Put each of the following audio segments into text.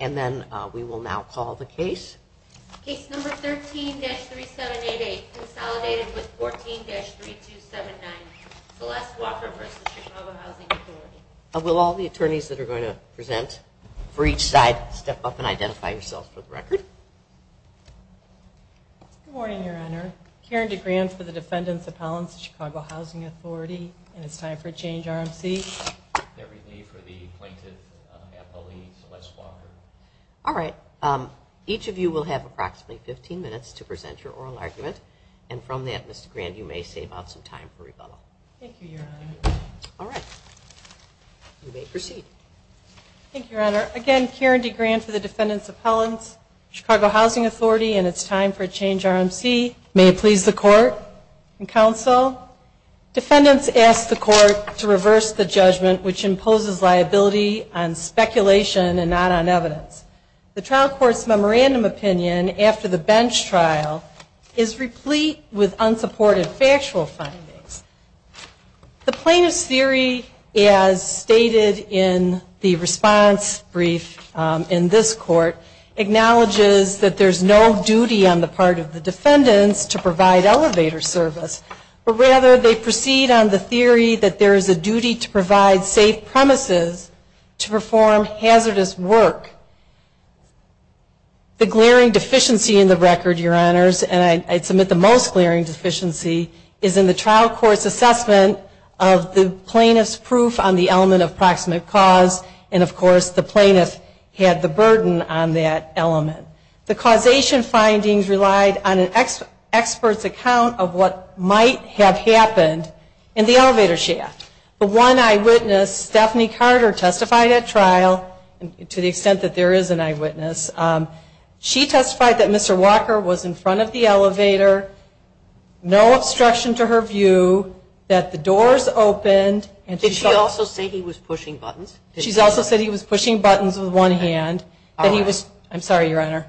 and then we will now call the case. Case number 13-3788, consolidated with 14-3279, Celeste Walker v. Chicago Housing Authority. Will all the attorneys that are going to present for each side step up and identify yourself for the record. Good morning, Your Honor. Karen DeGran for the Defendants Appellants, Chicago Housing Authority, and it's time for Change RMC. May it please the Court and Counsel, Defendants ask the Court to reverse the judgment of the defendant on behalf of the defendant. The trial court's memorandum opinion after the bench trial is replete with unsupported factual findings. The plaintiff's theory, as stated in the response brief in this Court, acknowledges that there is no duty on the part of the defendants to provide elevator service, but rather they proceed on the theory that there is a duty to provide safe premises to perform hazardous work. The glaring deficiency in the record, Your Honors, and I'd submit the most glaring deficiency, is in the trial court's assessment of the plaintiff's proof on the element of proximate cause, and of course the plaintiff had the burden on that element. The causation findings relied on an expert's account of what might have happened in the elevator shaft. The one eyewitness, Stephanie Carter, testified at trial, to the extent that there is an eyewitness, she testified that Mr. Walker was in front of the elevator, no obstruction to her view, that the doors opened. Did she also say he was pushing buttons? She also said he was pushing buttons with one hand. I'm sorry, Your Honor.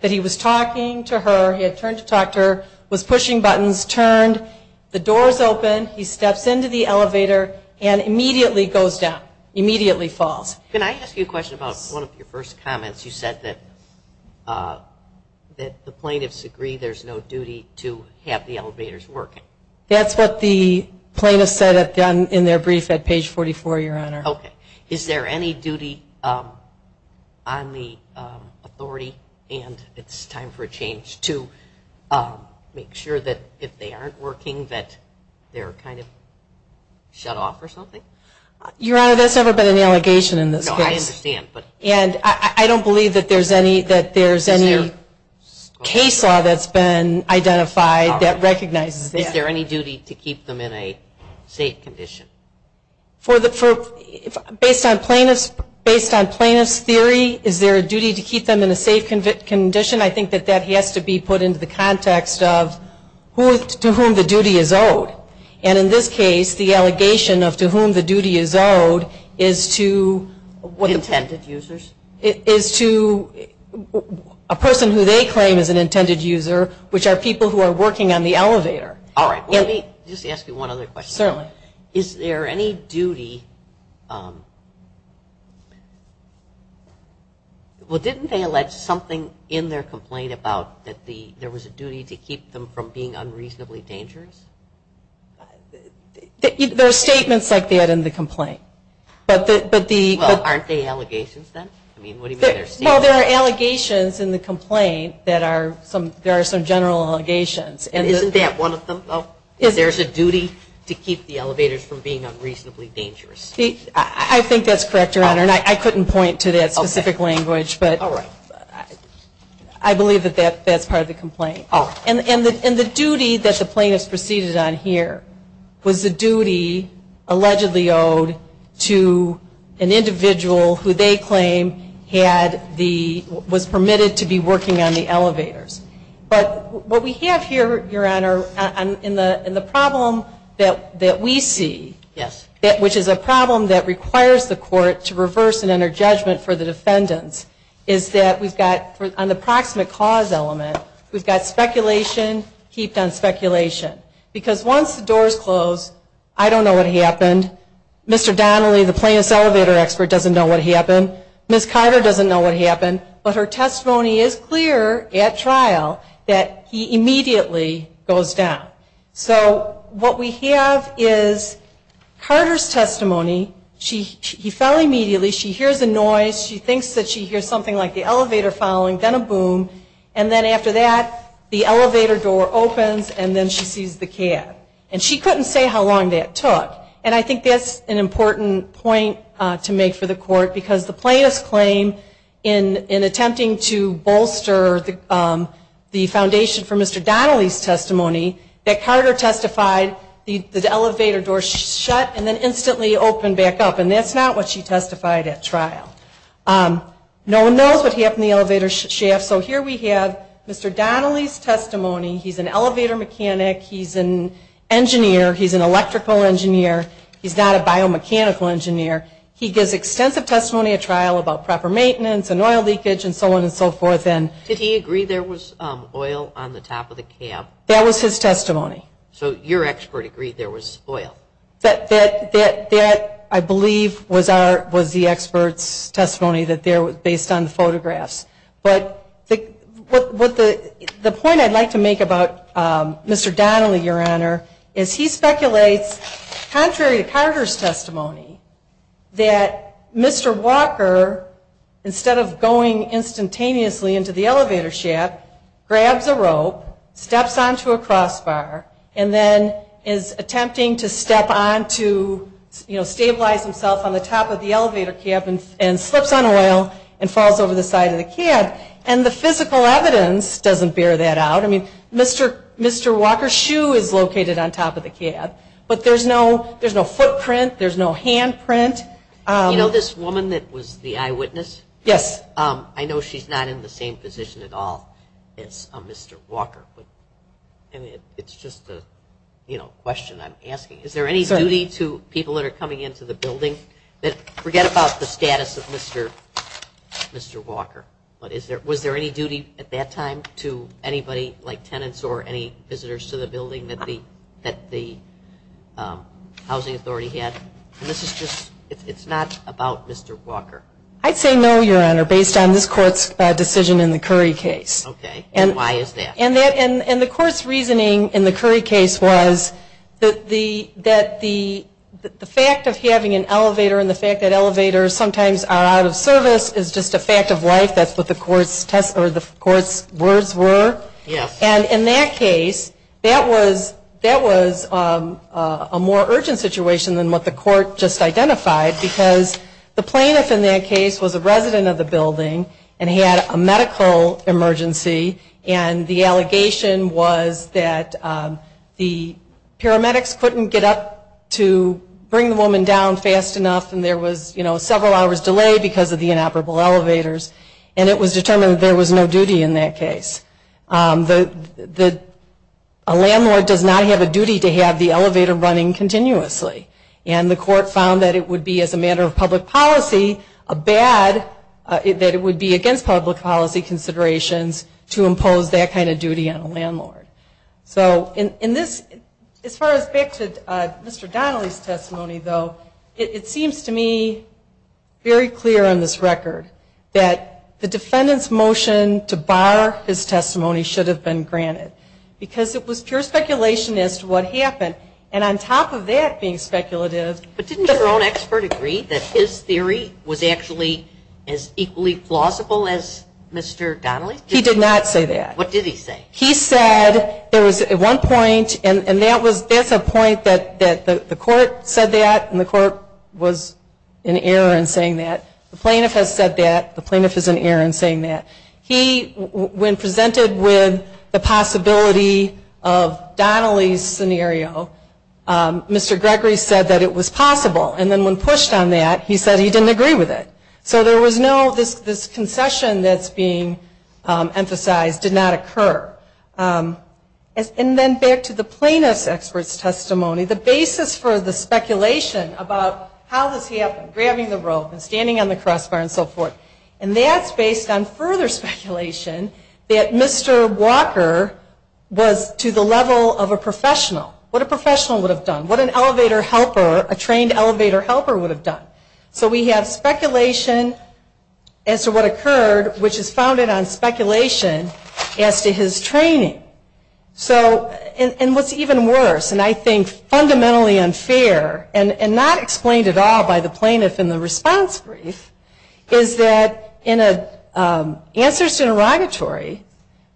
That he was talking to her, he had turned to talk to her, was pushing buttons, turned, the doors opened, he steps into the elevator, and immediately goes down, immediately falls. Can I ask you a question about one of your first comments? You said that the plaintiffs agree there's no duty to have the elevators working. That's what the plaintiffs said in their brief at page 44, Your Honor. Okay. Is there any duty on the authority, and it's time for a change, to make sure that if they aren't working that they're kind of shut off or something? Your Honor, there's never been an allegation in this case. No, I understand. And I don't believe that there's any case law that's been identified that recognizes that. Is there any duty to keep them in a safe condition? Based on plaintiff's theory, is there a duty to keep them in a safe condition? I think that that has to be put into the context of to whom the duty is owed. And in this case, the allegation of to whom the duty is owed is to what? Intended users. Is to a person who they claim is an intended user, which are people who are working on the elevator. All right. Let me just ask you one other question. Certainly. Is there any duty, well, didn't they allege something in their complaint about that there was a duty to keep them from being unreasonably dangerous? There are statements like that in the complaint. Well, aren't they allegations then? I mean, what do you mean they're statements? Well, there are allegations in the complaint that are some, there are some general allegations. Isn't that one of them, though? There's a duty to keep the elevators from being unreasonably dangerous. I think that's correct, Your Honor, and I couldn't point to that specific language. I believe that that's part of the complaint. All right. And the duty that the plaintiffs proceeded on here was the duty allegedly owed to an individual who they claim had the, was permitted to be working on the elevators. But what we have here, Your Honor, in the problem that we see, which is a problem that requires the court to reverse and enter judgment for the defendants, is that we've got an approximate cause element. We've got speculation heaped on speculation. Because once the doors close, I don't know what happened. Mr. Donnelly, the plaintiff's elevator expert, doesn't know what happened. Ms. Carter doesn't know what happened. But her testimony is clear at trial that he immediately goes down. So what we have is Carter's testimony. He fell immediately. She hears a noise. She thinks that she hears something like the elevator falling, then a boom. And then after that, the elevator door opens, and then she sees the cat. And she couldn't say how long that took. And I think that's an important point to make for the court, because the plaintiff's claim in attempting to bolster the foundation for Mr. Donnelly's testimony, that Carter testified the elevator door shut and then instantly opened back up. And that's not what she testified at trial. No one knows what happened to the elevator shaft. So here we have Mr. Donnelly's testimony. He's an elevator mechanic. He's an engineer. He's an electrical engineer. He's not a biomechanical engineer. He gives extensive testimony at trial about proper maintenance and oil leakage and so on and so forth. Did he agree there was oil on the top of the cab? That was his testimony. So your expert agreed there was oil? That, I believe, was the expert's testimony based on the photographs. But the point I'd like to make about Mr. Donnelly, Your Honor, is he speculates, contrary to Carter's testimony, that Mr. Walker, instead of going instantaneously into the elevator shaft, grabs a rope, steps onto a crossbar, and then is attempting to step on to stabilize himself on the top of the cab. And the physical evidence doesn't bear that out. I mean, Mr. Walker's shoe is located on top of the cab, but there's no footprint, there's no handprint. You know this woman that was the eyewitness? Yes. I know she's not in the same position at all as Mr. Walker, but it's just a question I'm asking. Is there any duty to people that are coming into the building that forget about the status of Mr. Walker? Was there any duty at that time to anybody, like tenants or any visitors to the building that the housing authority had? It's not about Mr. Walker. I'd say no, Your Honor, based on this Court's decision in the Curry case. Okay. And why is that? And the Court's reasoning in the Curry case was that the fact of having an inmate or sometimes are out of service is just a fact of life. That's what the Court's words were. Yes. And in that case, that was a more urgent situation than what the Court just identified because the plaintiff in that case was a resident of the building and he had a medical emergency, and the allegation was that the paramedics couldn't get up to bring the inoperable elevators, and it was determined there was no duty in that case. A landlord does not have a duty to have the elevator running continuously, and the Court found that it would be, as a matter of public policy, a bad that it would be against public policy considerations to impose that kind of duty on a landlord. So in this, as far as back to Mr. Donnelly's testimony, though, it seems to me very clear on this record that the defendant's motion to bar his testimony should have been granted because it was pure speculation as to what happened, and on top of that being speculative. But didn't your own expert agree that his theory was actually as equally plausible as Mr. Donnelly's? He did not say that. What did he say? He said there was at one point, and that's a point that the Court said that and the Court was in error in saying that. The plaintiff has said that. The plaintiff is in error in saying that. He, when presented with the possibility of Donnelly's scenario, Mr. Gregory said that it was possible, and then when pushed on that, he said he didn't agree with it. So there was no, this concession that's being emphasized did not occur. And then back to the plaintiff's expert's testimony, the basis for the speculation about how this happened, grabbing the rope and standing on the crossbar and so forth, and that's based on further speculation that Mr. Walker was to the level of a professional, what a professional would have done, what an elevator helper, a trained elevator helper would have done. So we have speculation as to what occurred, which is founded on speculation as to his training. And what's even worse, and I think fundamentally unfair and not explained at all by the plaintiff in the response brief, is that in a answers to interrogatory,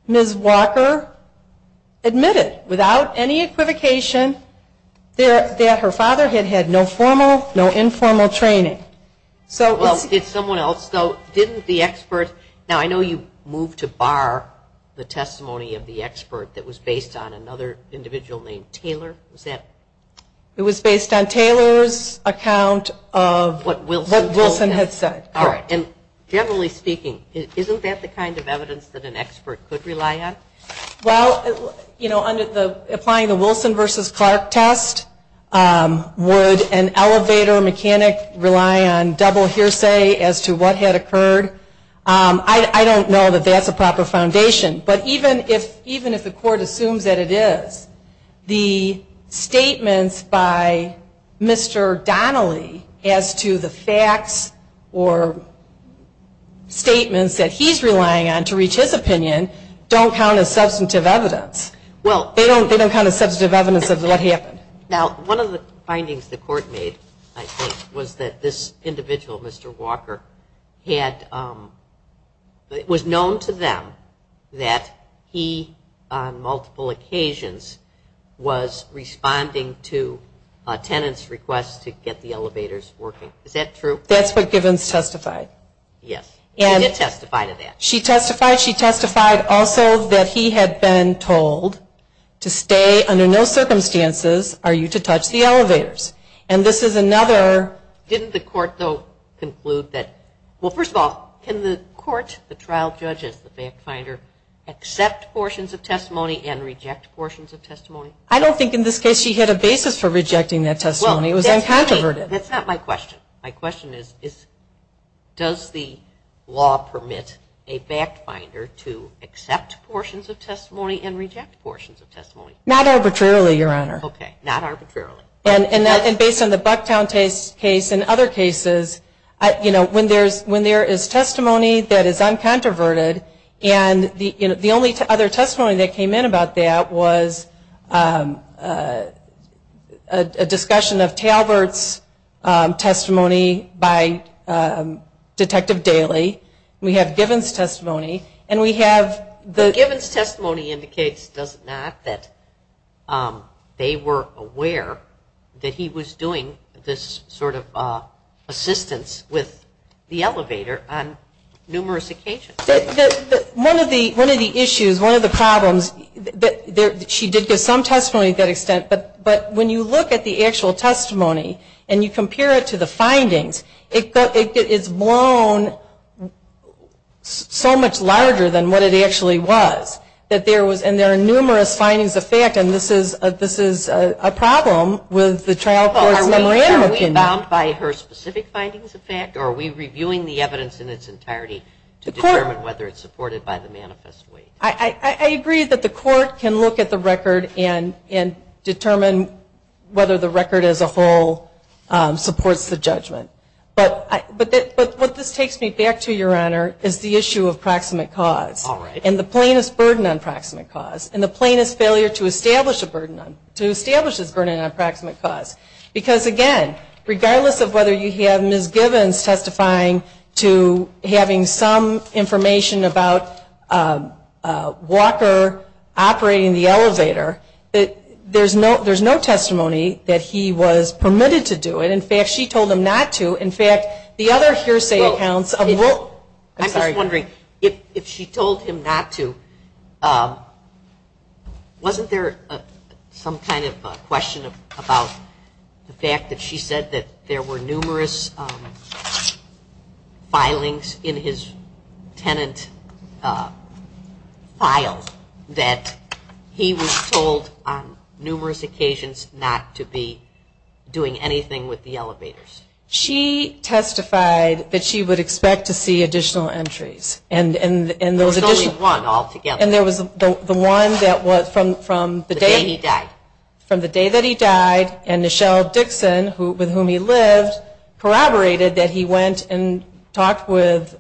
Ms. Walker admitted without any equivocation that her father had had no formal, no informal training. Well, did someone else though, didn't the expert, now I know you moved to bar the testimony of the expert that was based on another individual named Taylor, was that? It was based on Taylor's account of what Wilson had said. All right, and generally speaking, isn't that the kind of evidence that an expert could rely on? Well, you know, applying the Wilson versus Clark test, would an elevator mechanic rely on double hearsay as to what had occurred? I don't know that that's a proper foundation, but even if the court assumes that it is, the statements by Mr. Donnelly as to the facts or statements that he's relying on to reach his opinion don't count as substantive evidence. Well, they don't count as substantive evidence of what happened. Now, one of the findings the court made, I think, was that this individual, Mr. Walker, was known to them that he, on multiple occasions, was responding to a tenant's request to get the elevators working. Is that true? That's what Givens testified. Yes, she did testify to that. She testified also that he had been told to stay under no circumstances are you to touch the elevators. And this is another... Didn't the court, though, conclude that... Well, first of all, can the court, the trial judge as the fact finder, accept portions of testimony and reject portions of testimony? I don't think in this case she had a basis for rejecting that testimony. It was uncontroverted. That's not my question. My question is does the law permit a fact finder to accept portions of testimony and reject portions of testimony? Not arbitrarily, Your Honor. Okay, not arbitrarily. And based on the Bucktown case and other cases, when there is testimony that is uncontroverted, and the only other testimony that came in about that was a discussion of Talbert's testimony by Detective Daly. We have Givens' testimony. Givens' testimony indicates, does it not, that they were aware that he was doing this sort of assistance with the elevator on numerous occasions. One of the issues, one of the problems, she did give some testimony to that extent, but when you look at the actual testimony and you compare it to the actually was, that there was, and there are numerous findings of fact, and this is a problem with the trial court's memorandum. Are we bound by her specific findings of fact, or are we reviewing the evidence in its entirety to determine whether it's supported by the manifest weight? I agree that the court can look at the record and determine whether the record as a whole supports the judgment. But what this takes me back to, Your Honor, is the issue of proximate cause. All right. And the plainest burden on proximate cause, and the plainest failure to establish a burden on, to establish this burden on proximate cause. Because, again, regardless of whether you have Ms. Givens testifying to having some information about Walker operating the elevator, there's no testimony that he was permitted to do it. In fact, she told him not to. In fact, the other hearsay accounts of the role. I'm sorry. I'm wondering if she told him not to, wasn't there some kind of question about the fact that she said that there were numerous filings in his tenant file that he was told on numerous occasions not to be doing anything with the elevators? She testified that she would expect to see additional entries. There was only one altogether. And there was the one that was from the day he died. From the day that he died, and Nichelle Dixon, with whom he lived, corroborated that he went and talked with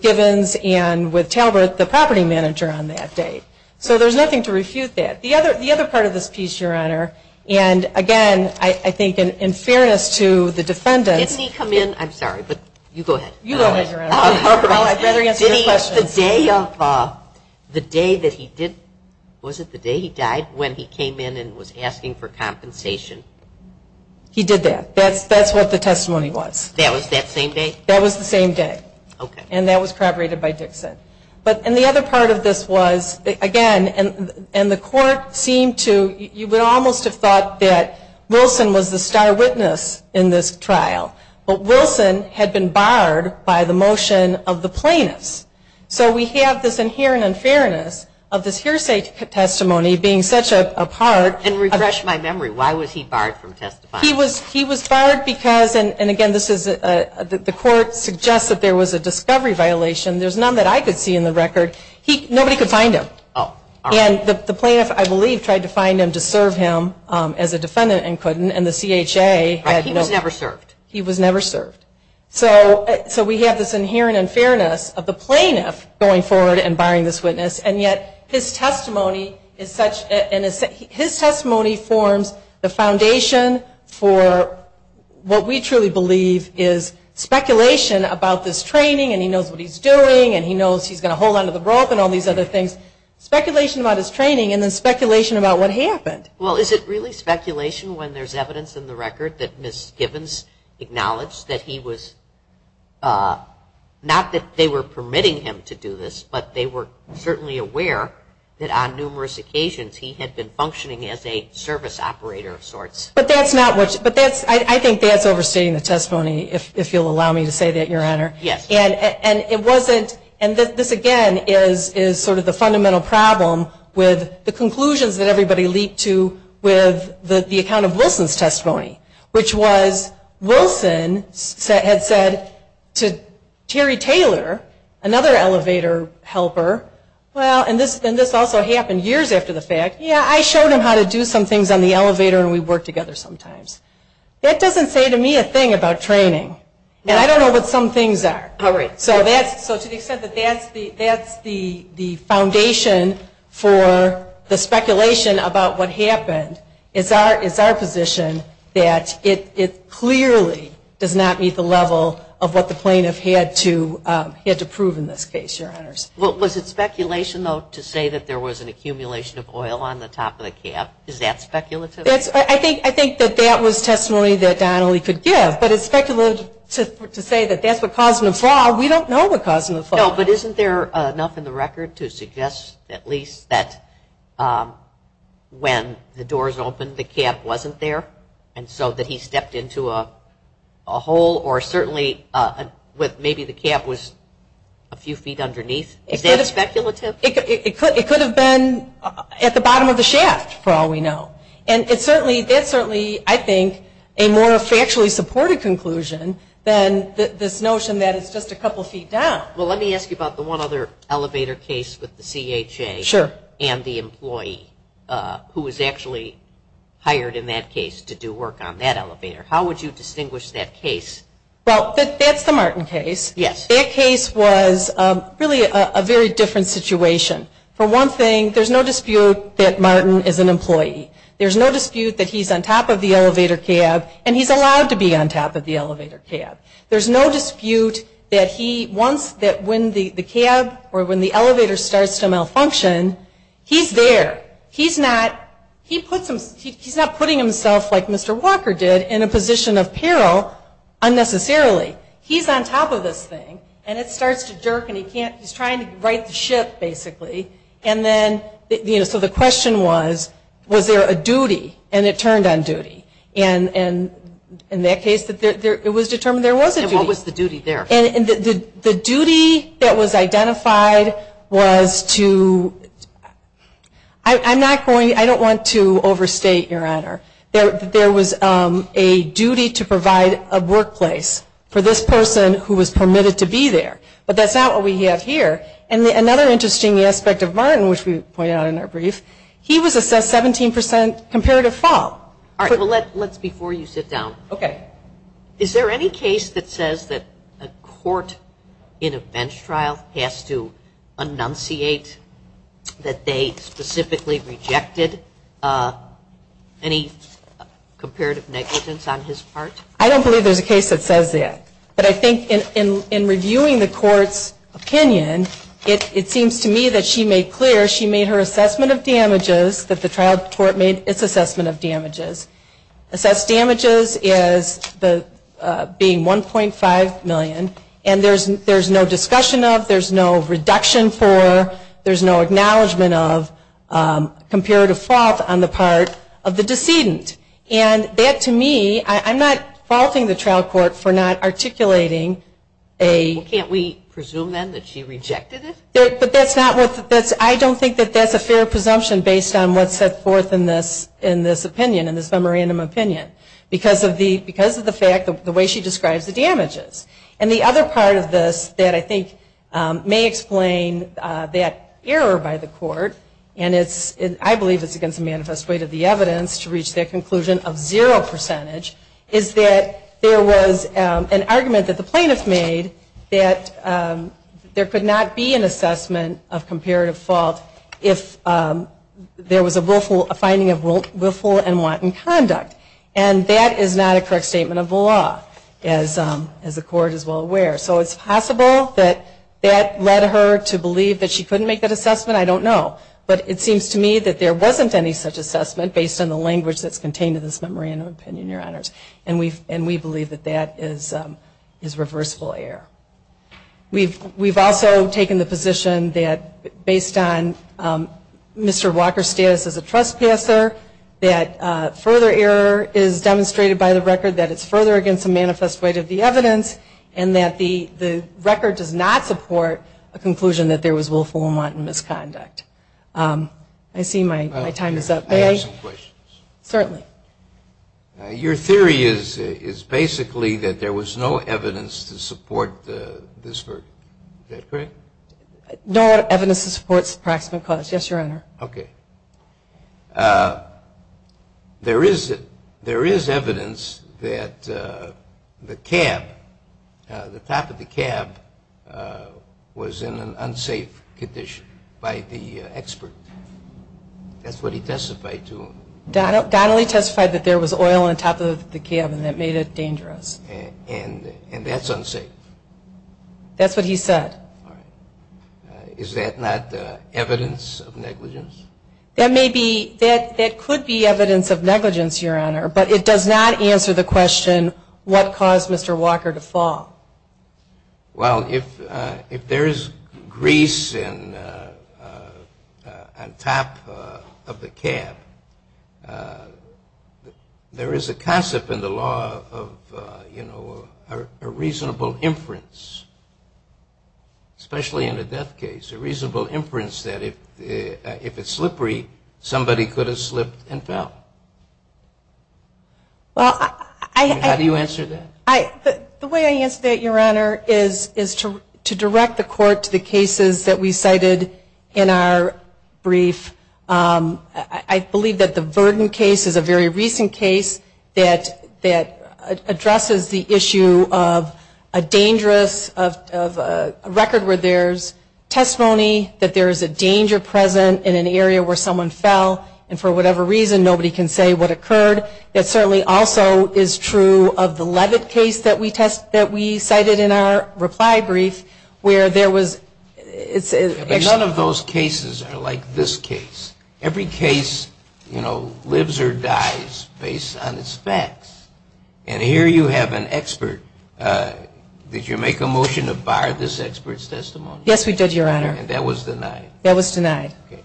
Givens and with Talbert, the property manager, on that day. So there's nothing to refute that. The other part of this piece, Your Honor, and again, I think in fairness to the defendants. Didn't he come in? I'm sorry, but you go ahead. You go, Your Honor. Well, I'd rather answer your question. The day that he did, was it the day he died, when he came in and was asking for compensation? He did that. That's what the testimony was. That was that same day? That was the same day. Okay. And that was corroborated by Dixon. And the other part of this was, again, and the court seemed to, you would almost have thought that Wilson was the star witness in this trial. But Wilson had been barred by the motion of the plaintiffs. So we have this inherent unfairness of this hearsay testimony being such a part. And refresh my memory. Why was he barred from testifying? He was barred because, and again, the court suggests that there was a discovery violation. There's none that I could see in the record. Nobody could find him. And the plaintiff, I believe, tried to find him to serve him as a defendant and couldn't, and the CHA had no. He was never served. He was never served. So we have this inherent unfairness of the plaintiff going forward and barring this witness. And yet his testimony is such, his testimony forms the foundation for what we truly believe is speculation about this training and he knows what he's doing and he knows he's going to hold on to the rope and all these other things. Speculation about his training and then speculation about what happened. Well, is it really speculation when there's evidence in the record that Ms. Gibbons acknowledged that he was, not that they were permitting him to do this, but they were certainly aware that on numerous occasions he had been functioning as a service operator of sorts. But that's not what, but that's, I think that's overstating the testimony, if you'll allow me to say that, Your Honor. Yes. And it wasn't, and this again is sort of the fundamental problem with the conclusions that everybody leaped to with the account of Wilson's testimony, which was Wilson had said to Terry Taylor, another elevator helper, well, and this also happened years after the fact, yeah, I showed him how to do some things on the elevator and we worked together sometimes. That doesn't say to me a thing about training. And I don't know what some things are. All right. So to the extent that that's the foundation for the speculation about what happened is our position that it clearly does not meet the level of what the plaintiff had to prove in this case, Your Honors. Was it speculation, though, to say that there was an accumulation of oil on the top of the cab? Is that speculative? I think that that was testimony that Donnelly could give, but it's speculative to say that that's what caused the flaw. We don't know what caused the flaw. No, but isn't there enough in the record to suggest at least that when the doors opened the cab wasn't there and so that he stepped into a hole or certainly maybe the cab was a few feet underneath? Is that speculative? It could have been at the bottom of the shaft, for all we know. And that's certainly, I think, a more factually supported conclusion than this notion that it's just a couple feet down. Well, let me ask you about the one other elevator case with the CHA and the employee who was actually hired in that case to do work on that elevator. How would you distinguish that case? Well, that's the Martin case. Yes. That case was really a very different situation. For one thing, there's no dispute that Martin is an employee. There's no dispute that he's on top of the elevator cab and he's allowed to be on top of the elevator cab. There's no dispute that he wants that when the cab or when the elevator starts to malfunction, he's there. He's not putting himself, like Mr. Walker did, in a position of peril unnecessarily. He's on top of this thing and it starts to jerk and he's trying to right the ship, basically. And then, you know, so the question was, was there a duty? And it turned on duty. And in that case, it was determined there was a duty. And what was the duty there? The duty that was identified was to, I'm not going, I don't want to overstate, Your Honor, there was a duty to provide a workplace for this person who was permitted to be there. But that's not what we have here. And another interesting aspect of Martin, which we pointed out in our brief, he was assessed 17% comparative fault. All right. Well, let's before you sit down. Okay. Is there any case that says that a court in a bench trial has to annunciate that they specifically rejected any comparative negligence on his part? I don't believe there's a case that says that. But I think in reviewing the court's opinion, it seems to me that she made clear she made her assessment of damages, that the trial court made its assessment of damages. Assessed damages is being $1.5 million. And there's no discussion of, there's no reduction for, there's no acknowledgment of comparative fault on the part of the decedent. And that to me, I'm not faulting the trial court for not articulating a... Well, can't we presume then that she rejected it? But that's not what, I don't think that that's a fair presumption based on what's set forth in this opinion, in this memorandum opinion. Because of the fact, the way she describes the damages. And the other part of this that I think may explain that error by the court, and I believe it's against the manifest weight of the evidence to reach that conclusion of zero percentage, is that there was an argument that the plaintiff made that there could not be an assessment of comparative fault if there was a finding of willful and wanton conduct. And that is not a correct statement of the law, as the court is well aware. So it's possible that that led her to believe that she couldn't make that assessment. I don't know. But it seems to me that there wasn't any such assessment based on the language that's contained in this memorandum opinion, Your Honors. And we believe that that is reversible error. We've also taken the position that based on Mr. Walker's status as a trespasser, that further error is demonstrated by the record that it's further against the manifest weight of the evidence, and that the record does not support a conclusion that there was willful and wanton misconduct. I see my time is up. May I ask some questions? Certainly. Your theory is basically that there was no evidence to support this verdict. Is that correct? No evidence to support the approximate cause. Yes, Your Honor. Okay. There is evidence that the cab, the top of the cab, was in an unsafe condition by the expert. That's what he testified to. Donnelly testified that there was oil on top of the cab and that made it dangerous. And that's unsafe? That's what he said. Is that not evidence of negligence? That may be. That could be evidence of negligence, Your Honor. But it does not answer the question, what caused Mr. Walker to fall? Well, if there is grease on top of the cab, there is a concept in the law of a reasonable inference, especially in a death case, a reasonable inference that if it's slippery, somebody could have slipped and fell. How do you answer that? The way I answer that, Your Honor, is to direct the court to the cases that we cited in our brief. I believe that the Verdon case is a very recent case that addresses the issue of a dangerous record where there is testimony that there is a danger present in an area where someone fell, and for whatever reason, nobody can say what occurred. It certainly also is true of the Levitt case that we cited in our reply brief where there was – None of those cases are like this case. Every case, you know, lives or dies based on its facts. And here you have an expert. Did you make a motion to bar this expert's testimony? Yes, we did, Your Honor. And that was denied? That was denied. Okay.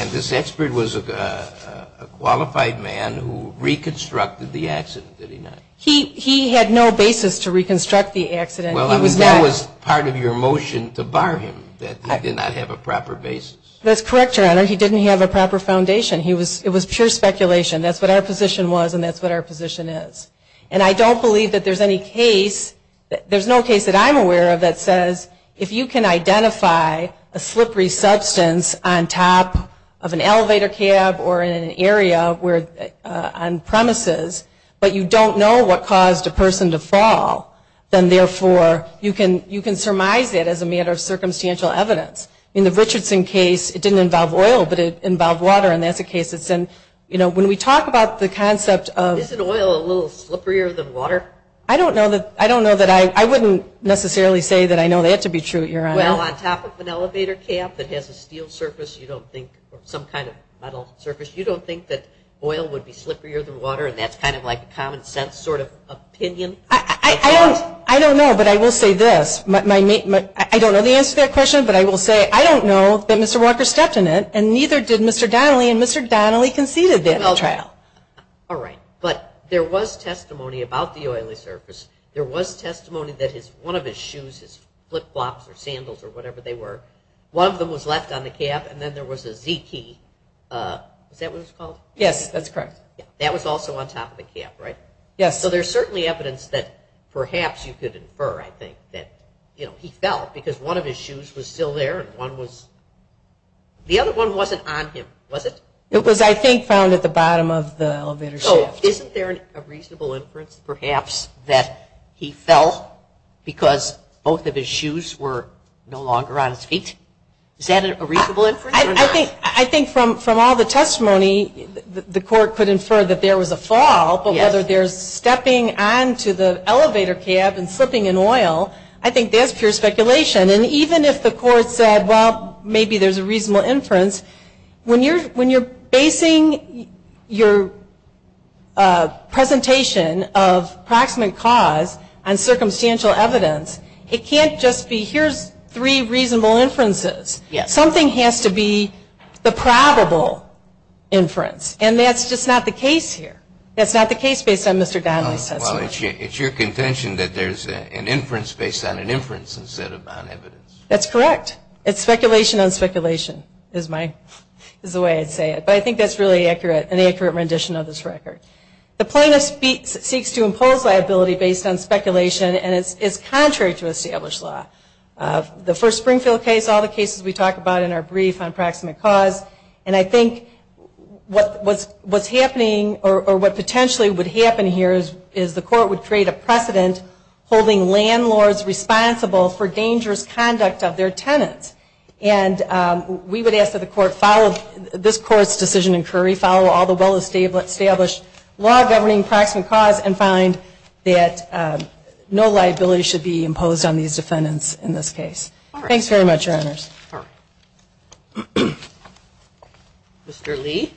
And this expert was a qualified man who reconstructed the accident, did he not? He had no basis to reconstruct the accident. Well, I mean, that was part of your motion to bar him, that he did not have a proper basis. That's correct, Your Honor. He didn't have a proper foundation. It was pure speculation. That's what our position was, and that's what our position is. And I don't believe that there's any case – there's no case that I'm aware of that says, if you can identify a slippery substance on top of an elevator cab or in an area where – on premises, but you don't know what caused a person to fall, then therefore, you can surmise it as a matter of circumstantial evidence. In the Richardson case, it didn't involve oil, but it involved water, and that's a case that's in – you know, when we talk about the concept of – I don't know that – I don't know that I – I wouldn't necessarily say that I know that to be true, Your Honor. Well, on top of an elevator cab that has a steel surface, you don't think – or some kind of metal surface, you don't think that oil would be slipperier than water, and that's kind of like a common-sense sort of opinion? I don't – I don't know, but I will say this. My – I don't know the answer to that question, but I will say I don't know that Mr. Walker stepped in it, and neither did Mr. Donnelly, and Mr. Donnelly conceded that at the trial. All right. But there was testimony about the oily surface. There was testimony that his – one of his shoes, his flip-flops or sandals or whatever they were, one of them was left on the cab, and then there was a Z-key – is that what it's called? Yes, that's correct. That was also on top of the cab, right? Yes. So there's certainly evidence that perhaps you could infer, I think, that, you know, he fell because one of his shoes was still there and one was – the other one wasn't on him, was it? It was, I think, found at the bottom of the elevator shaft. So isn't there a reasonable inference perhaps that he fell because both of his shoes were no longer on his feet? Is that a reasonable inference? I think – I think from all the testimony, the court could infer that there was a fall, but whether there's stepping onto the elevator cab and slipping in oil, I think that's pure speculation. And even if the court said, well, maybe there's a reasonable inference, when you're basing your presentation of proximate cause on circumstantial evidence, it can't just be, here's three reasonable inferences. Something has to be the probable inference. And that's just not the case here. It's your contention that there's an inference based on an inference instead of on evidence. That's correct. It's speculation on speculation is my – is the way I'd say it. But I think that's really accurate, an accurate rendition of this record. The plaintiff seeks to impose liability based on speculation, and it's contrary to established law. The first Springfield case, all the cases we talk about in our brief on proximate cause, and I think what's happening or what potentially would happen here is the court would create a precedent holding landlords responsible for dangerous conduct of their tenants. And we would ask that the court follow this court's decision in Curry, follow all the well-established law governing proximate cause, and find that no liability should be imposed on these defendants in this case. Thanks very much, Your Honors. Mr. Lee.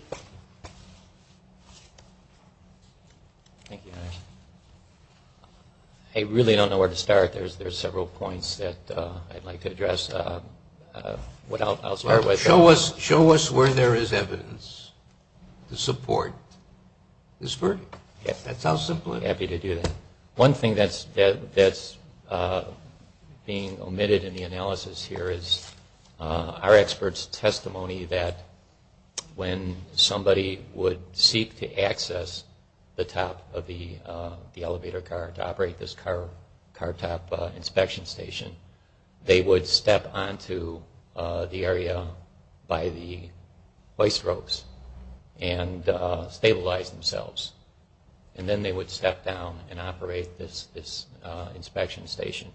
I really don't know where to start. There's several points that I'd like to address. Show us where there is evidence to support this verdict. That's how simple it is. Happy to do that. One thing that's being omitted in the analysis here is our experts' testimony that when somebody would seek to access the top of the elevator car to operate this car top inspection station, they would step onto the area by the hoist ropes and stabilize themselves. And then they would step down and operate this inspection station.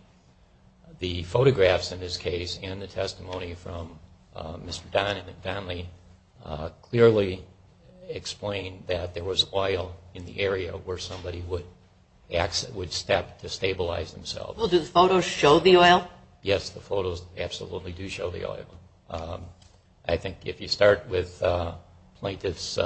The photographs in this case and the testimony from Mr. Don and Don Lee clearly explain that there was oil in the area where somebody would step to stabilize themselves. Well, do the photos show the oil? I think if you start with Plaintiff's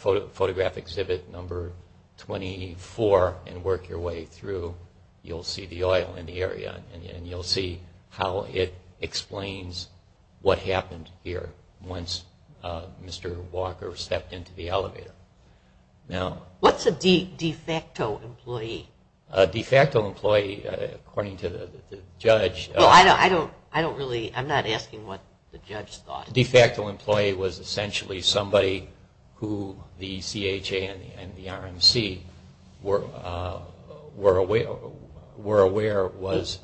Photograph Exhibit Number 24 and work your way through, you'll see the oil in the area and you'll see how it explains what happened here once Mr. Walker stepped into the elevator. What's a de facto employee? A de facto employee, according to the judge. I'm not asking what the judge thought. A de facto employee was essentially somebody who the CHA and the RMC were aware was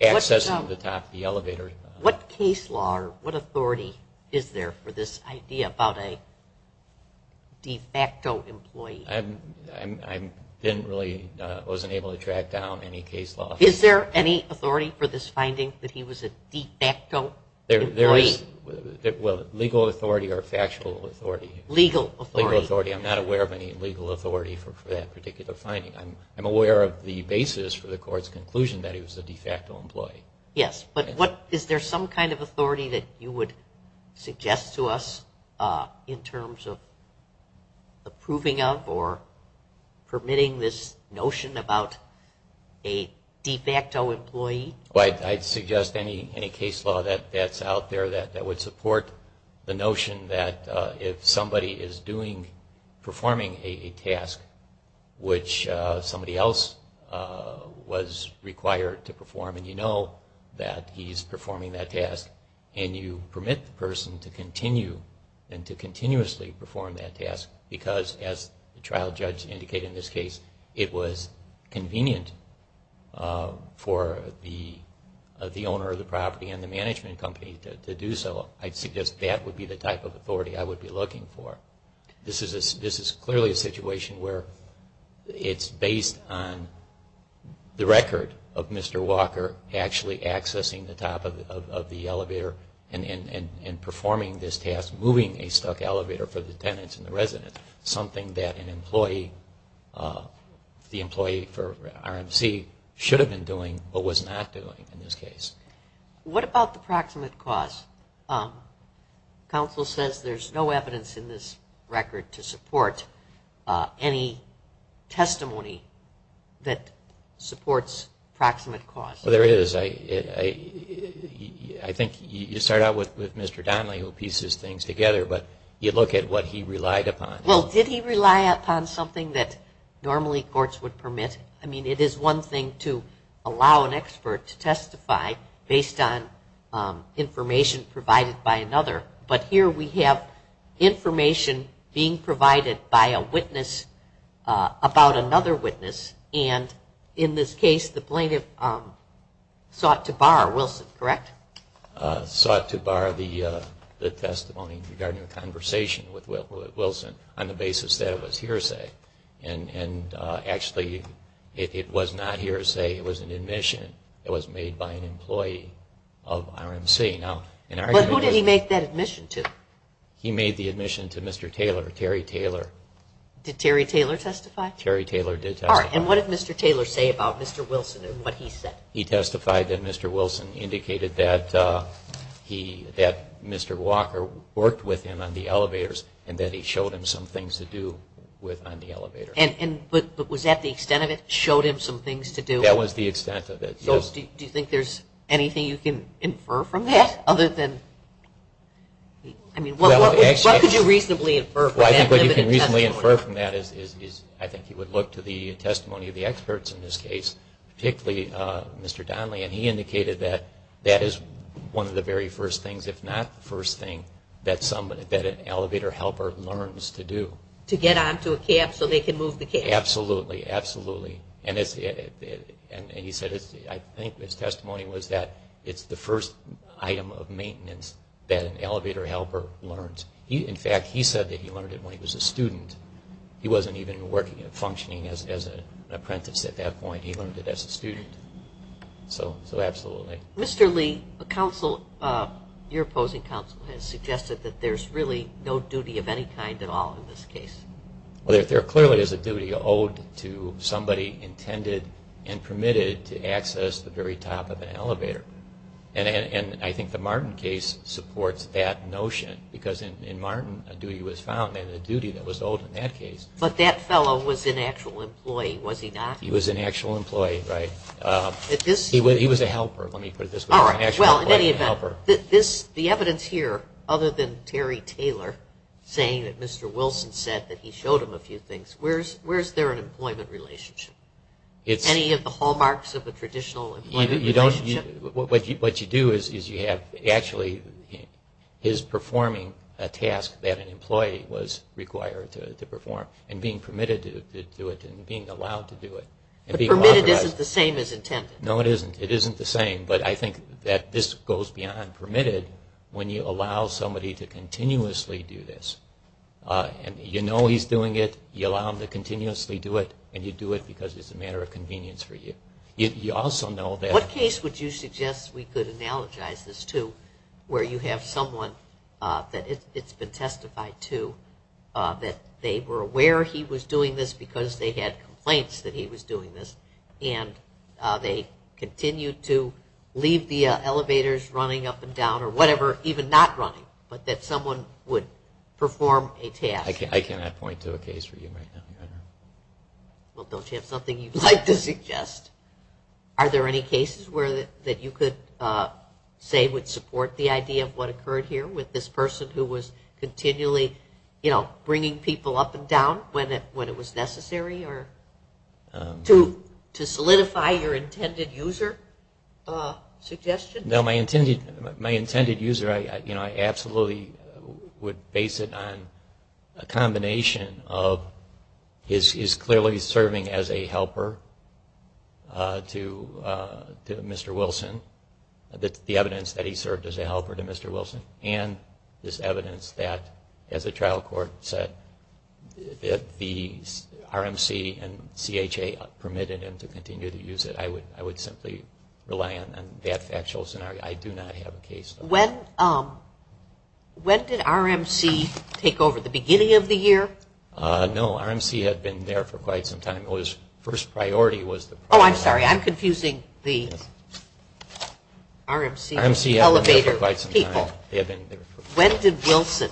accessing the top of the elevator. What case law or what authority is there for this idea about a de facto employee? I wasn't able to track down any case law. Is there any authority for this finding that he was a de facto employee? Well, legal authority or factual authority. Legal authority. I'm not aware of any legal authority for that particular finding. I'm aware of the basis for the court's conclusion that he was a de facto employee. Yes, but is there some kind of authority that you would suggest to us in terms of approving of or permitting this notion about a de facto employee? I'd suggest any case law that's out there that would support the notion that if somebody is performing a task which somebody else was required to perform and you know that he's performing that task and you permit the person to continue and to continuously perform that task because, as the trial judge indicated in this case, it was convenient for the owner of the property and the management company to do so. I'd suggest that would be the type of authority I would be looking for. This is clearly a situation where it's based on the record of Mr. Walker actually accessing the top of the elevator and performing this task, moving a stuck elevator for the tenants and the residents, something that the employee for RMC should have been doing but was not doing in this case. What about the proximate cause? Counsel says there's no evidence in this record to support any testimony that supports proximate cause. There is. I think you start out with Mr. Donnelly who pieces things together, but you look at what he relied upon. Well, did he rely upon something that normally courts would permit? I mean, it is one thing to allow an expert to testify based on information provided by another, but here we have information being provided by a witness about another witness and in this case the plaintiff sought to bar Wilson, correct? Sought to bar the testimony regarding a conversation with Wilson on the basis that it was hearsay and actually it was not hearsay, it was an admission that was made by an employee of RMC. But who did he make that admission to? He made the admission to Mr. Taylor, Terry Taylor. Did Terry Taylor testify? Terry Taylor did testify. And what did Mr. Taylor say about Mr. Wilson and what he said? He testified that Mr. Wilson indicated that Mr. Walker worked with him on the elevators and that he showed him some things to do on the elevator. But was that the extent of it, showed him some things to do? That was the extent of it, yes. Do you think there is anything you can infer from that other than, I mean, what could you reasonably infer? Well, I think what you can reasonably infer from that is I think you would look to the testimony of the experts in this case, particularly Mr. Donnelly, and he indicated that that is one of the very first things, if not the first thing, that an elevator helper learns to do. To get onto a cab so they can move the cab. Absolutely, absolutely. And he said, I think his testimony was that it's the first item of maintenance that an elevator helper learns. In fact, he said that he learned it when he was a student. He wasn't even functioning as an apprentice at that point. He learned it as a student. So absolutely. Mr. Lee, your opposing counsel has suggested that there's really no duty of any kind at all in this case. Well, there clearly is a duty owed to somebody intended and permitted to access the very top of an elevator. And I think the Martin case supports that notion, because in Martin a duty was found, and a duty that was owed in that case. But that fellow was an actual employee, was he not? He was an actual employee, right. He was a helper, let me put it this way. The evidence here, other than Terry Taylor saying that Mr. Wilson said that he showed him a few things, where is there an employment relationship? Any of the hallmarks of a traditional employment relationship? What you do is you have actually his performing a task that an employee was required to perform, and being permitted to do it and being allowed to do it. But permitted isn't the same as intended. No, it isn't. It isn't the same, but I think that this goes beyond permitted when you allow somebody to continuously do this. And you know he's doing it, you allow him to continuously do it, and you do it because it's a matter of convenience for you. You also know that... What case would you suggest we could analogize this to where you have someone that it's been testified to, that they were aware he was doing this because they had complaints that he was doing this, and they continued to leave the elevators running up and down or whatever, even not running, but that someone would perform a task. I cannot point to a case for you right now. Well, don't you have something you'd like to suggest? Are there any cases that you could say would support the idea of what occurred here with this person who was continually bringing people up and down when it was necessary to solidify your intended user suggestion? No, my intended user, I absolutely would base it on a combination of his clearly serving as a helper to Mr. Wilson, the evidence that he served as a helper to Mr. Wilson, and this evidence that as a trial court said that the RMC and CHA permitted him to continue to use it. I would simply rely on that factual scenario. I do not have a case. When did RMC take over, the beginning of the year? No, RMC had been there for quite some time. Oh, I'm sorry, I'm confusing the RMC elevator people. When did Wilson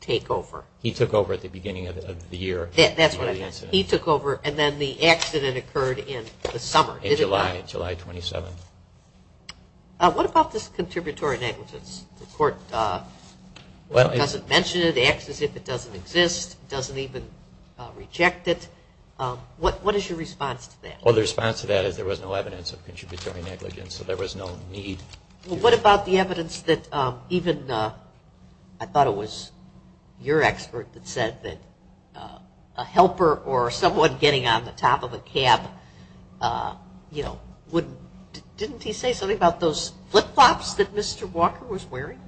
take over? He took over at the beginning of the year. That's what I meant. He took over and then the accident occurred in the summer, didn't it? In July, July 27th. What about this contributory negligence? The court doesn't mention it, acts as if it doesn't exist, doesn't even reject it. What is your response to that? Well, the response to that is there was no evidence of contributory negligence, so there was no need. Well, what about the evidence that even, I thought it was your expert that said that a helper or someone getting on the top of a cab, you know, wouldn't, didn't he say something about those flip flops that Mr. Walker was wearing?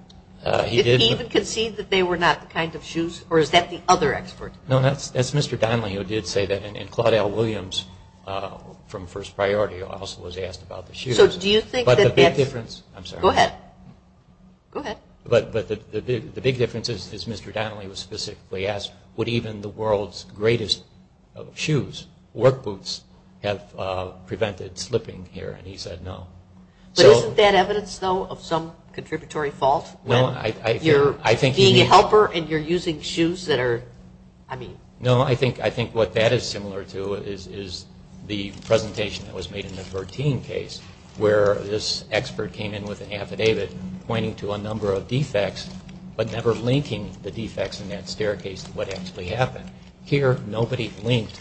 He did. Did he even concede that they were not the kind of shoes, or is that the other expert? No, that's Mr. Donnelly who did say that. And Claudel Williams from First Priority also was asked about the shoes. So do you think that that's- But the big difference- Go ahead. Go ahead. But the big difference is Mr. Donnelly was specifically asked, would even the world's greatest shoes, work boots, have prevented slipping here? And he said no. But isn't that evidence, though, of some contributory fault? You're being a helper and you're using shoes that are, I mean- No, I think what that is similar to is the presentation that was made in the 13 case where this expert came in with an affidavit pointing to a number of defects but never linking the defects in that staircase to what actually happened. Here, nobody linked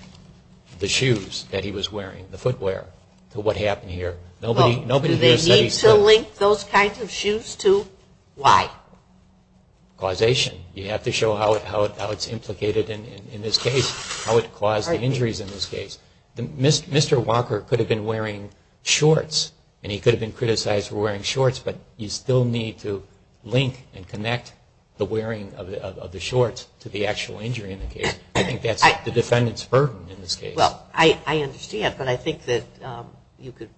the shoes that he was wearing, the footwear, to what happened here. Well, do they need to link those kinds of shoes to why? Causation. You have to show how it's implicated in this case, how it caused the injuries in this case. Mr. Walker could have been wearing shorts and he could have been criticized for wearing shorts, but you still need to link and connect the wearing of the shorts to the actual injury in the case. I think that's the defendant's burden in this case. Well, I understand. But I think that you could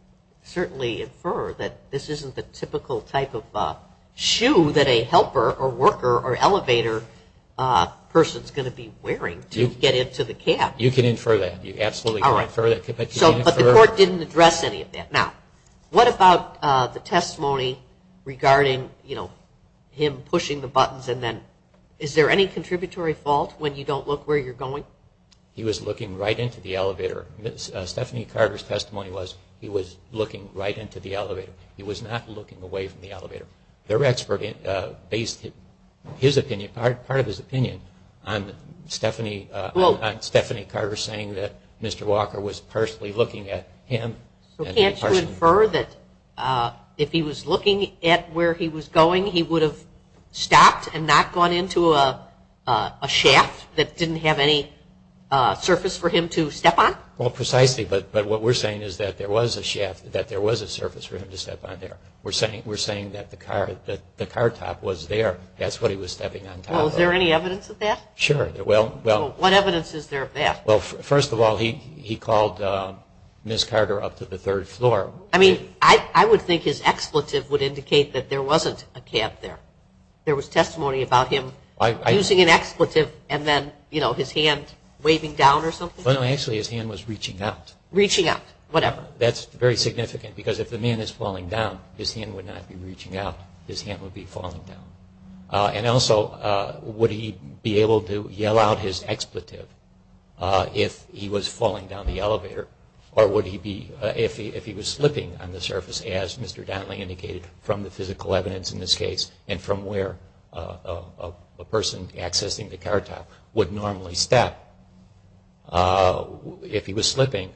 certainly infer that this isn't the typical type of shoe that a helper or worker or elevator person is going to be wearing to get into the cab. You can infer that. You absolutely can infer that. But the court didn't address any of that. Now, what about the testimony regarding him pushing the buttons and then- Is there any contributory fault when you don't look where you're going? No. He was looking right into the elevator. Stephanie Carter's testimony was he was looking right into the elevator. He was not looking away from the elevator. Their expert based part of his opinion on Stephanie Carter saying that Mr. Walker was personally looking at him. Can't you infer that if he was looking at where he was going, he would have stopped and not gone into a shaft that didn't have any surface for him to step on? Well, precisely. But what we're saying is that there was a shaft, that there was a surface for him to step on there. We're saying that the car top was there. That's what he was stepping on top of. Well, is there any evidence of that? Sure. Well- What evidence is there of that? Well, first of all, he called Ms. Carter up to the third floor. I mean, I would think his expletive would indicate that there wasn't a cab there. There was testimony about him using an expletive and then, you know, his hand waving down or something? Well, no, actually his hand was reaching out. Reaching out. Whatever. That's very significant because if the man is falling down, his hand would not be reaching out. His hand would be falling down. And also, would he be able to yell out his expletive if he was falling down the elevator? Or would he be, if he was slipping on the surface as Mr. Donnelly indicated from the physical evidence in this case and from where a person accessing the car top would normally step, if he was slipping,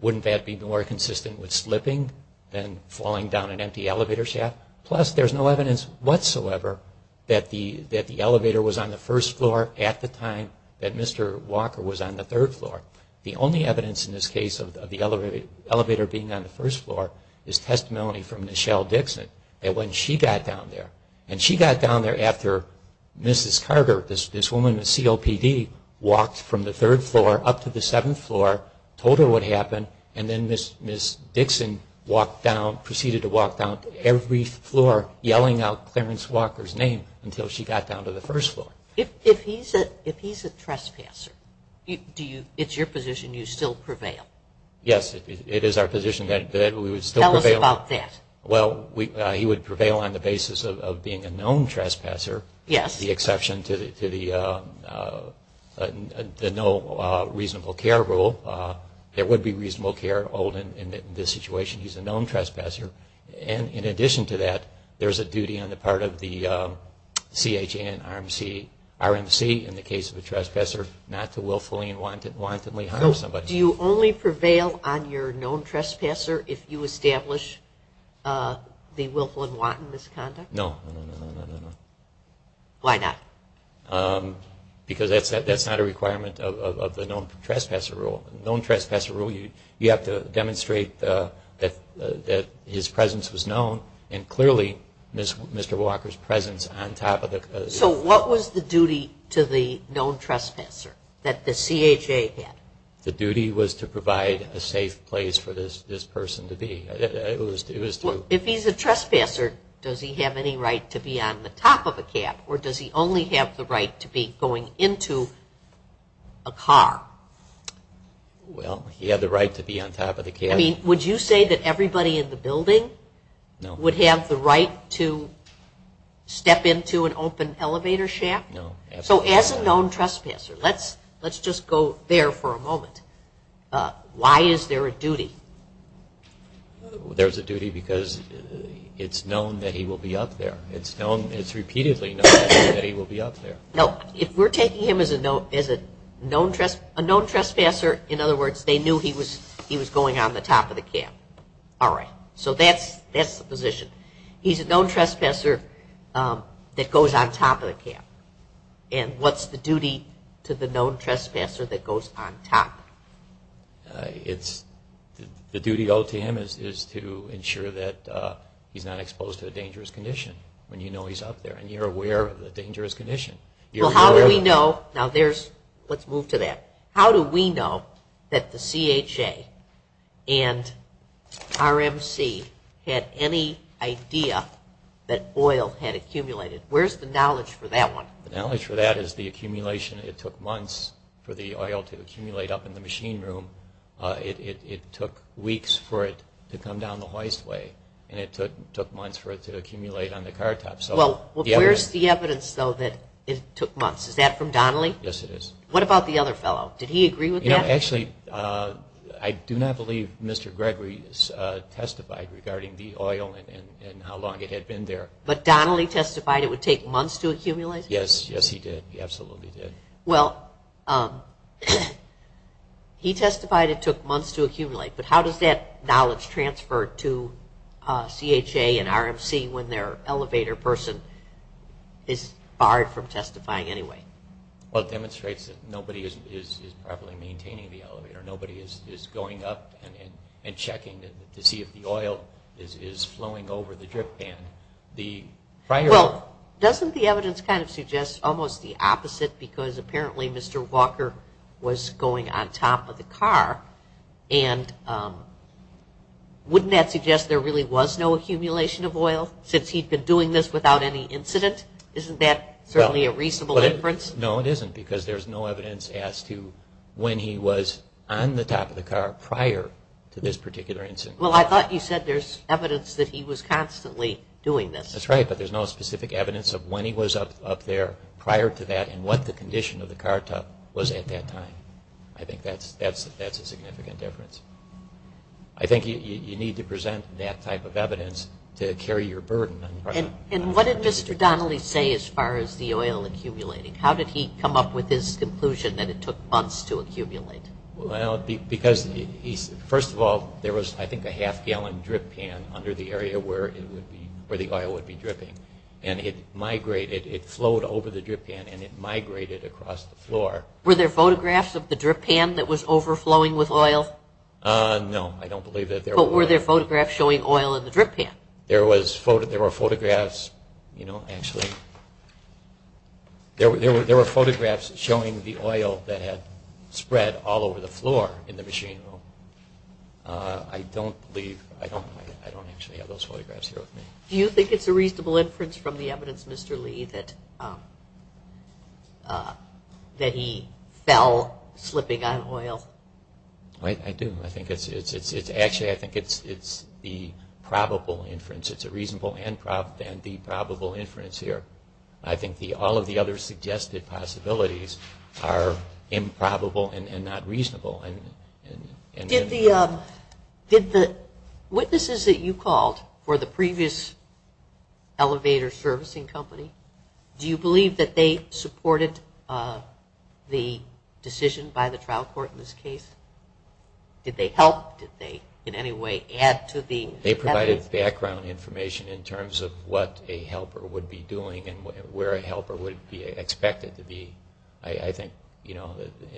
wouldn't that be more consistent with slipping than falling down an empty elevator shaft? Plus, there's no evidence whatsoever that the elevator was on the first floor at the time that Mr. Walker was on the third floor. The only evidence in this case of the elevator being on the first floor is testimony from Michelle Dixon that when she got down there, and she got down there after Mrs. Carter, this woman with COPD, walked from the third floor up to the seventh floor, told her what happened, and then Miss Dixon proceeded to walk down every floor yelling out Clarence Walker's name until she got down to the first floor. If he's a trespasser, it's your position you still prevail? Yes, it is our position that we would still prevail. Tell us about that. Well, he would prevail on the basis of being a known trespasser, the exception to the no reasonable care rule. There would be reasonable care in this situation. He's a known trespasser. In addition to that, there's a duty on the part of the CHNRMC in the case of a trespasser not to willfully and wantonly harm somebody. Do you only prevail on your known trespasser if you establish the willful and wanton misconduct? No. Why not? Because that's not a requirement of the known trespasser rule. You have to demonstrate that his presence was known and clearly Mr. Walker's presence on top of the... So what was the duty to the known trespasser that the CHA had? The duty was to provide a safe place for this person to be. If he's a trespasser, does he have any right to be on the top of a cab or does he only have the right to be going into a car? Well, he had the right to be on top of the cab. Would you say that everybody in the building would have the right to step into an open elevator shaft? No. So as a known trespasser, let's just go there for a moment. Why is there a duty? There's a duty because it's known that he will be up there. It's repeatedly known that he will be up there. No. If we're taking him as a known trespasser, in other words, they knew he was going on the top of the cab. All right. So that's the position. He's a known trespasser that goes on top of the cab. And what's the duty to the known trespasser that goes on top? The duty owed to him is to ensure that he's not exposed to a dangerous condition when you know he's up there and you're aware of the dangerous condition. Well, how do we know? Now, let's move to that. How do we know that the CHA and RMC had any idea that oil had accumulated? Where's the knowledge for that one? The knowledge for that is the accumulation. It took months for the oil to accumulate up in the machine room. It took weeks for it to come down the hoist way, and it took months for it to accumulate on the car top. Where's the evidence, though, that it took months? Is that from Donnelly? Yes, it is. What about the other fellow? Did he agree with that? Actually, I do not believe Mr. Gregory testified regarding the oil and how long it had been there. But Donnelly testified it would take months to accumulate? Yes, yes, he did. He absolutely did. Well, he testified it took months to accumulate, but how does that knowledge transfer to CHA and RMC when their elevator person is barred from testifying anyway? Well, it demonstrates that nobody is properly maintaining the elevator. Nobody is going up and checking to see if the oil is flowing over the drip pan. Well, doesn't the evidence kind of suggest almost the opposite because apparently Mr. Walker was going on top of the car, and wouldn't that suggest there really was no accumulation of oil since he'd been doing this without any incident? Isn't that certainly a reasonable inference? No, it isn't because there's no evidence as to when he was on the top of the car prior to this particular incident. Well, I thought you said there's evidence that he was constantly doing this. That's right, but there's no specific evidence of when he was up there prior to that and what the condition of the car top was at that time. I think that's a significant difference. I think you need to present that type of evidence to carry your burden. And what did Mr. Donnelly say as far as the oil accumulating? How did he come up with his conclusion that it took months to accumulate? Well, because first of all, there was, I think, a half-gallon drip pan under the area where the oil would be dripping, and it flowed over the drip pan and it migrated across the floor. Were there photographs of the drip pan that was overflowing with oil? No, I don't believe that there were. But were there photographs showing oil in the drip pan? There were photographs, you know, actually. There were photographs showing the oil that had spread all over the floor in the machine room. I don't believe, I don't actually have those photographs here with me. Do you think it's a reasonable inference from the evidence, Mr. Lee, that he fell slipping on oil? I do. Actually, I think it's the probable inference. It's a reasonable and the probable inference here. I think all of the other suggested possibilities are improbable and not reasonable. Did the witnesses that you called for the previous elevator servicing company, do you believe that they supported the decision by the trial court in this case? Did they help? Did they in any way add to the evidence? They provided background information in terms of what a helper would be doing and where a helper would be expected to be. I think, you know,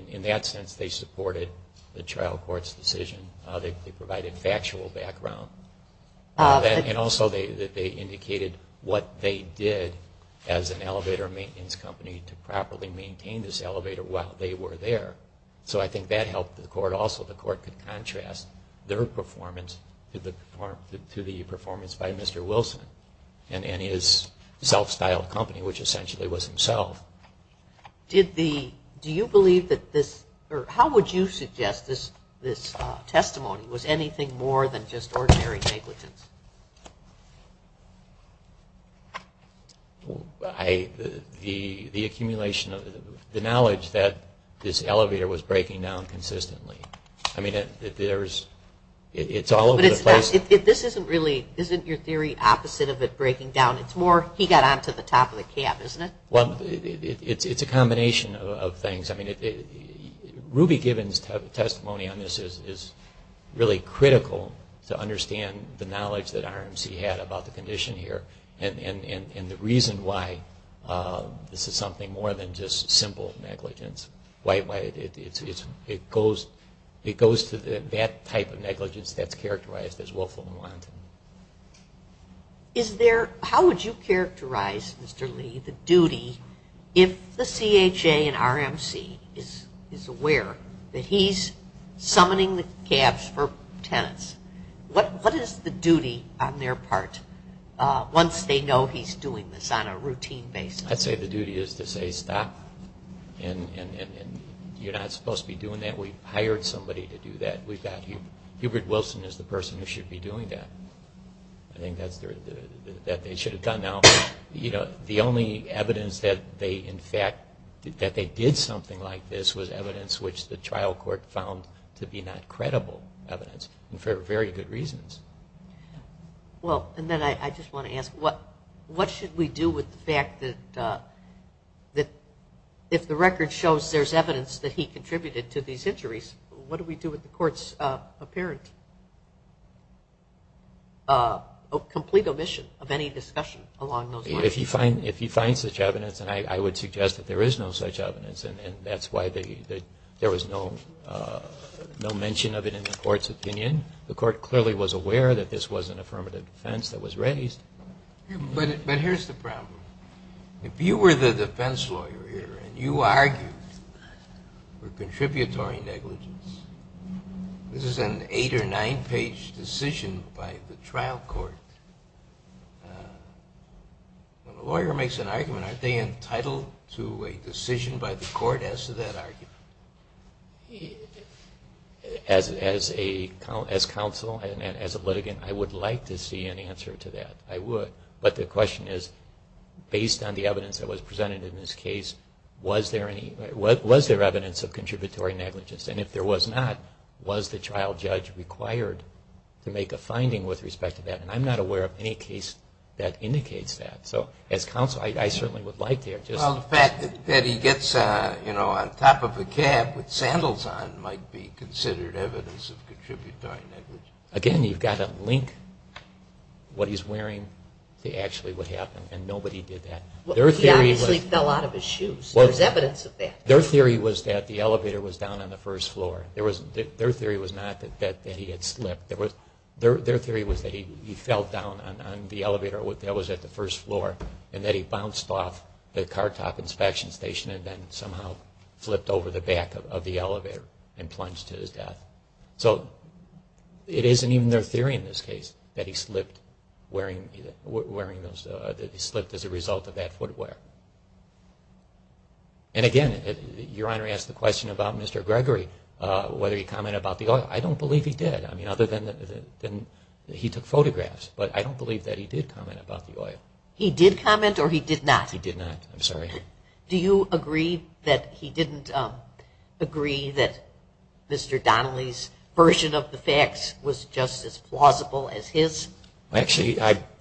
in that sense they supported the trial court's decision. They provided factual background. And also they indicated what they did as an elevator maintenance company to properly maintain this elevator while they were there. So I think that helped the court also. The court could contrast their performance to the performance by Mr. Wilson and his self-styled company, which essentially was himself. How would you suggest this testimony? Was anything more than just ordinary negligence? The accumulation of the knowledge that this elevator was breaking down consistently. I mean, it's all over the place. But this isn't really your theory opposite of it breaking down. It's more he got onto the top of the cab, isn't it? Well, it's a combination of things. I mean, Ruby Gibbons' testimony on this is really critical to understand the knowledge that RMC had about the condition here and the reason why this is something more than just simple negligence. It goes to that type of negligence that's characterized as willful and wanton. How would you characterize, Mr. Lee, the duty if the CHA and RMC is aware that he's summoning the cabs for tenants, what is the duty on their part once they know he's doing this on a routine basis? I'd say the duty is to say stop and you're not supposed to be doing that. We hired somebody to do that. Hubert Wilson is the person who should be doing that. I think that's what they should have done. Now, the only evidence that they did something like this was evidence which the trial court found to be not credible evidence and for very good reasons. Well, and then I just want to ask what should we do with the fact that if the record shows there's evidence that he contributed to these injuries, what do we do with the court's apparent complete omission of any discussion along those lines? If you find such evidence, and I would suggest that there is no such evidence and that's why there was no mention of it in the court's opinion. The court clearly was aware that this was an affirmative defense that was raised. But here's the problem. If you were the defense lawyer here and you argued for contributory negligence, this is an eight- or nine-page decision by the trial court. Well, the lawyer makes an argument. Aren't they entitled to a decision by the court as to that argument? As counsel and as a litigant, I would like to see an answer to that. I would. But the question is, based on the evidence that was presented in this case, was there evidence of contributory negligence? And if there was not, was the trial judge required to make a finding with respect to that? And I'm not aware of any case that indicates that. So as counsel, I certainly would like to hear it. Well, the fact that he gets on top of a cab with sandals on might be considered evidence of contributory negligence. Again, you've got to link what he's wearing to actually what happened, and nobody did that. He obviously fell out of his shoes. There's evidence of that. Their theory was that the elevator was down on the first floor. Their theory was not that he had slipped. Their theory was that he fell down on the elevator that was at the first floor and that he bounced off the car top inspection station and then somehow flipped over the back of the elevator and plunged to his death. So it isn't even their theory in this case that he slipped as a result of that footwear. And again, Your Honor asked the question about Mr. Gregory, whether he commented about the other. I don't believe he did. I mean, other than he took photographs. But I don't believe that he did comment about the oil. He did comment or he did not? He did not. I'm sorry. Do you agree that he didn't agree that Mr. Donnelly's version of the facts was just as plausible as his? Actually,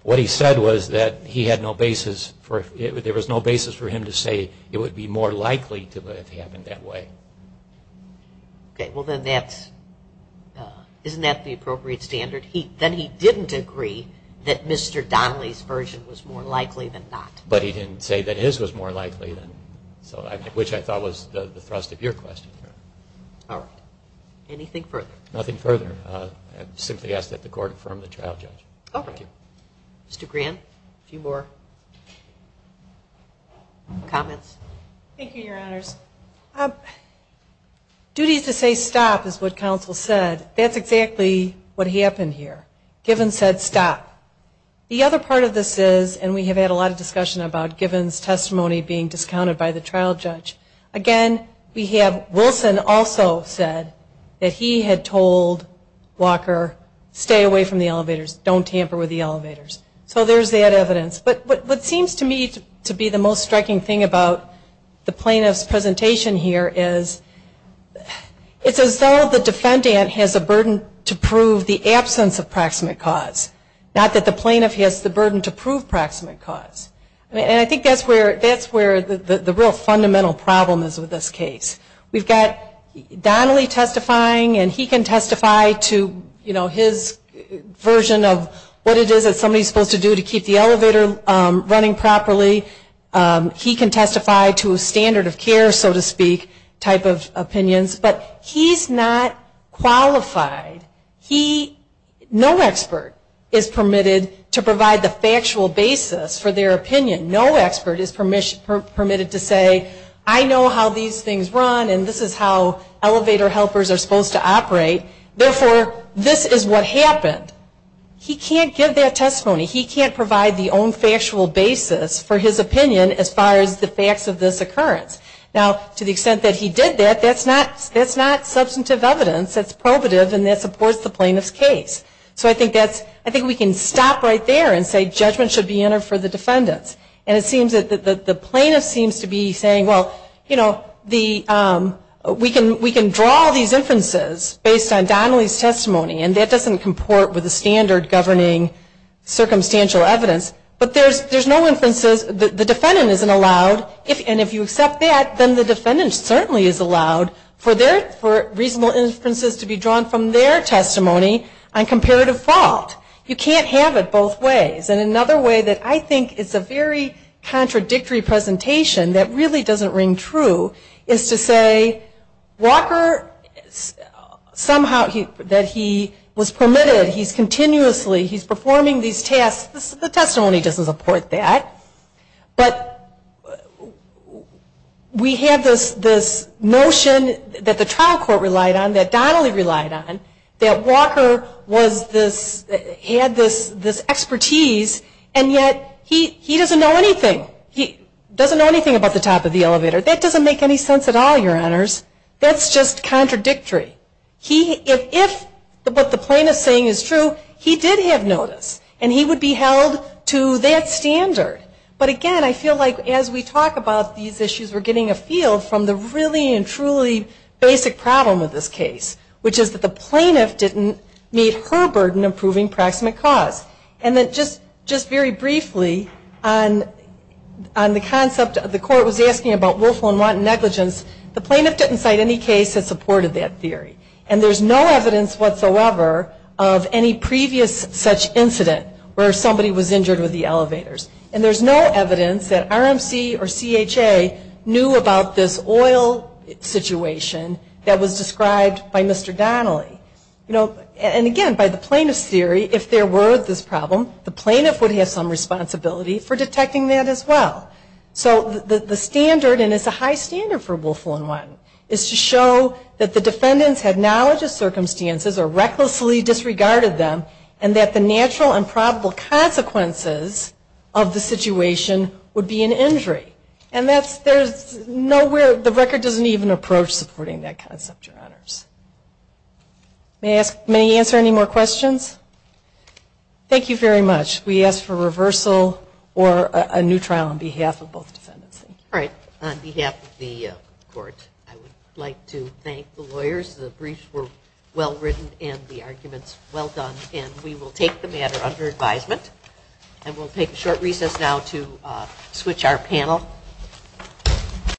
what he said was that he had no basis for it. There was no basis for him to say it would be more likely to have happened that way. Okay. Well, then that's – isn't that the appropriate standard? Then he didn't agree that Mr. Donnelly's version was more likely than not. But he didn't say that his was more likely, which I thought was the thrust of your question. All right. Anything further? Nothing further. I simply ask that the Court confirm the trial judge. All right. Thank you. Mr. Grant, a few more comments? Thank you, Your Honors. Duties to say stop is what counsel said. That's exactly what happened here. Given said stop. The other part of this is, and we have had a lot of discussion about Given's testimony being discounted by the trial judge. Again, we have Wilson also said that he had told Walker, stay away from the elevators. Don't tamper with the elevators. So there's that evidence. But what seems to me to be the most striking thing about the plaintiff's presentation here is, it's as though the defendant has a burden to prove the absence of proximate cause, not that the plaintiff has the burden to prove proximate cause. And I think that's where the real fundamental problem is with this case. We've got Donnelly testifying, and he can testify to, you know, his version of what it is that somebody is supposed to do to keep the elevator running properly. He can testify to a standard of care, so to speak, type of opinions. But he's not qualified. He, no expert is permitted to provide the factual basis for their opinion. No expert is permitted to say, I know how these things run, therefore this is what happened. He can't give that testimony. He can't provide the own factual basis for his opinion as far as the facts of this occurrence. Now, to the extent that he did that, that's not substantive evidence. That's probative, and that supports the plaintiff's case. So I think we can stop right there and say judgment should be entered for the defendants. And it seems that the plaintiff seems to be saying, well, you know, we can draw these inferences based on Donnelly's testimony, and that doesn't comport with the standard governing circumstantial evidence. But there's no inferences, the defendant isn't allowed, and if you accept that, then the defendant certainly is allowed for reasonable inferences to be drawn from their testimony on comparative fault. You can't have it both ways. And another way that I think is a very contradictory presentation that really doesn't ring true is to say, Walker, somehow that he was permitted, he's continuously, he's performing these tasks, the testimony doesn't support that. But we have this notion that the trial court relied on, that Donnelly relied on, that Walker was this, had this expertise, and yet he doesn't know anything. He doesn't know anything about the top of the elevator. That doesn't make any sense at all, your honors. That's just contradictory. If what the plaintiff is saying is true, he did have notice, and he would be held to that standard. But again, I feel like as we talk about these issues, we're getting a feel from the really and truly basic problem of this case, which is that the plaintiff didn't meet her burden of proving proximate cause. And just very briefly, on the concept of the court was asking about willful and wanton negligence, the plaintiff didn't cite any case that supported that theory. And there's no evidence whatsoever of any previous such incident where somebody was injured with the elevators. And there's no evidence that RMC or CHA knew about this oil situation that was described by Mr. Donnelly. And again, by the plaintiff's theory, if there were this problem, the plaintiff would have some responsibility for detecting that as well. So the standard, and it's a high standard for willful and wanton, is to show that the defendants had knowledge of circumstances or recklessly disregarded them, and that the natural and probable consequences of the situation would be an injury. And there's nowhere, the record doesn't even approach supporting that concept, Your Honors. May I answer any more questions? Thank you very much. We ask for reversal or a new trial on behalf of both defendants. All right. The briefs were well written and the arguments well done. And we will take the matter under advisement. And we'll take a short recess now to switch our panel.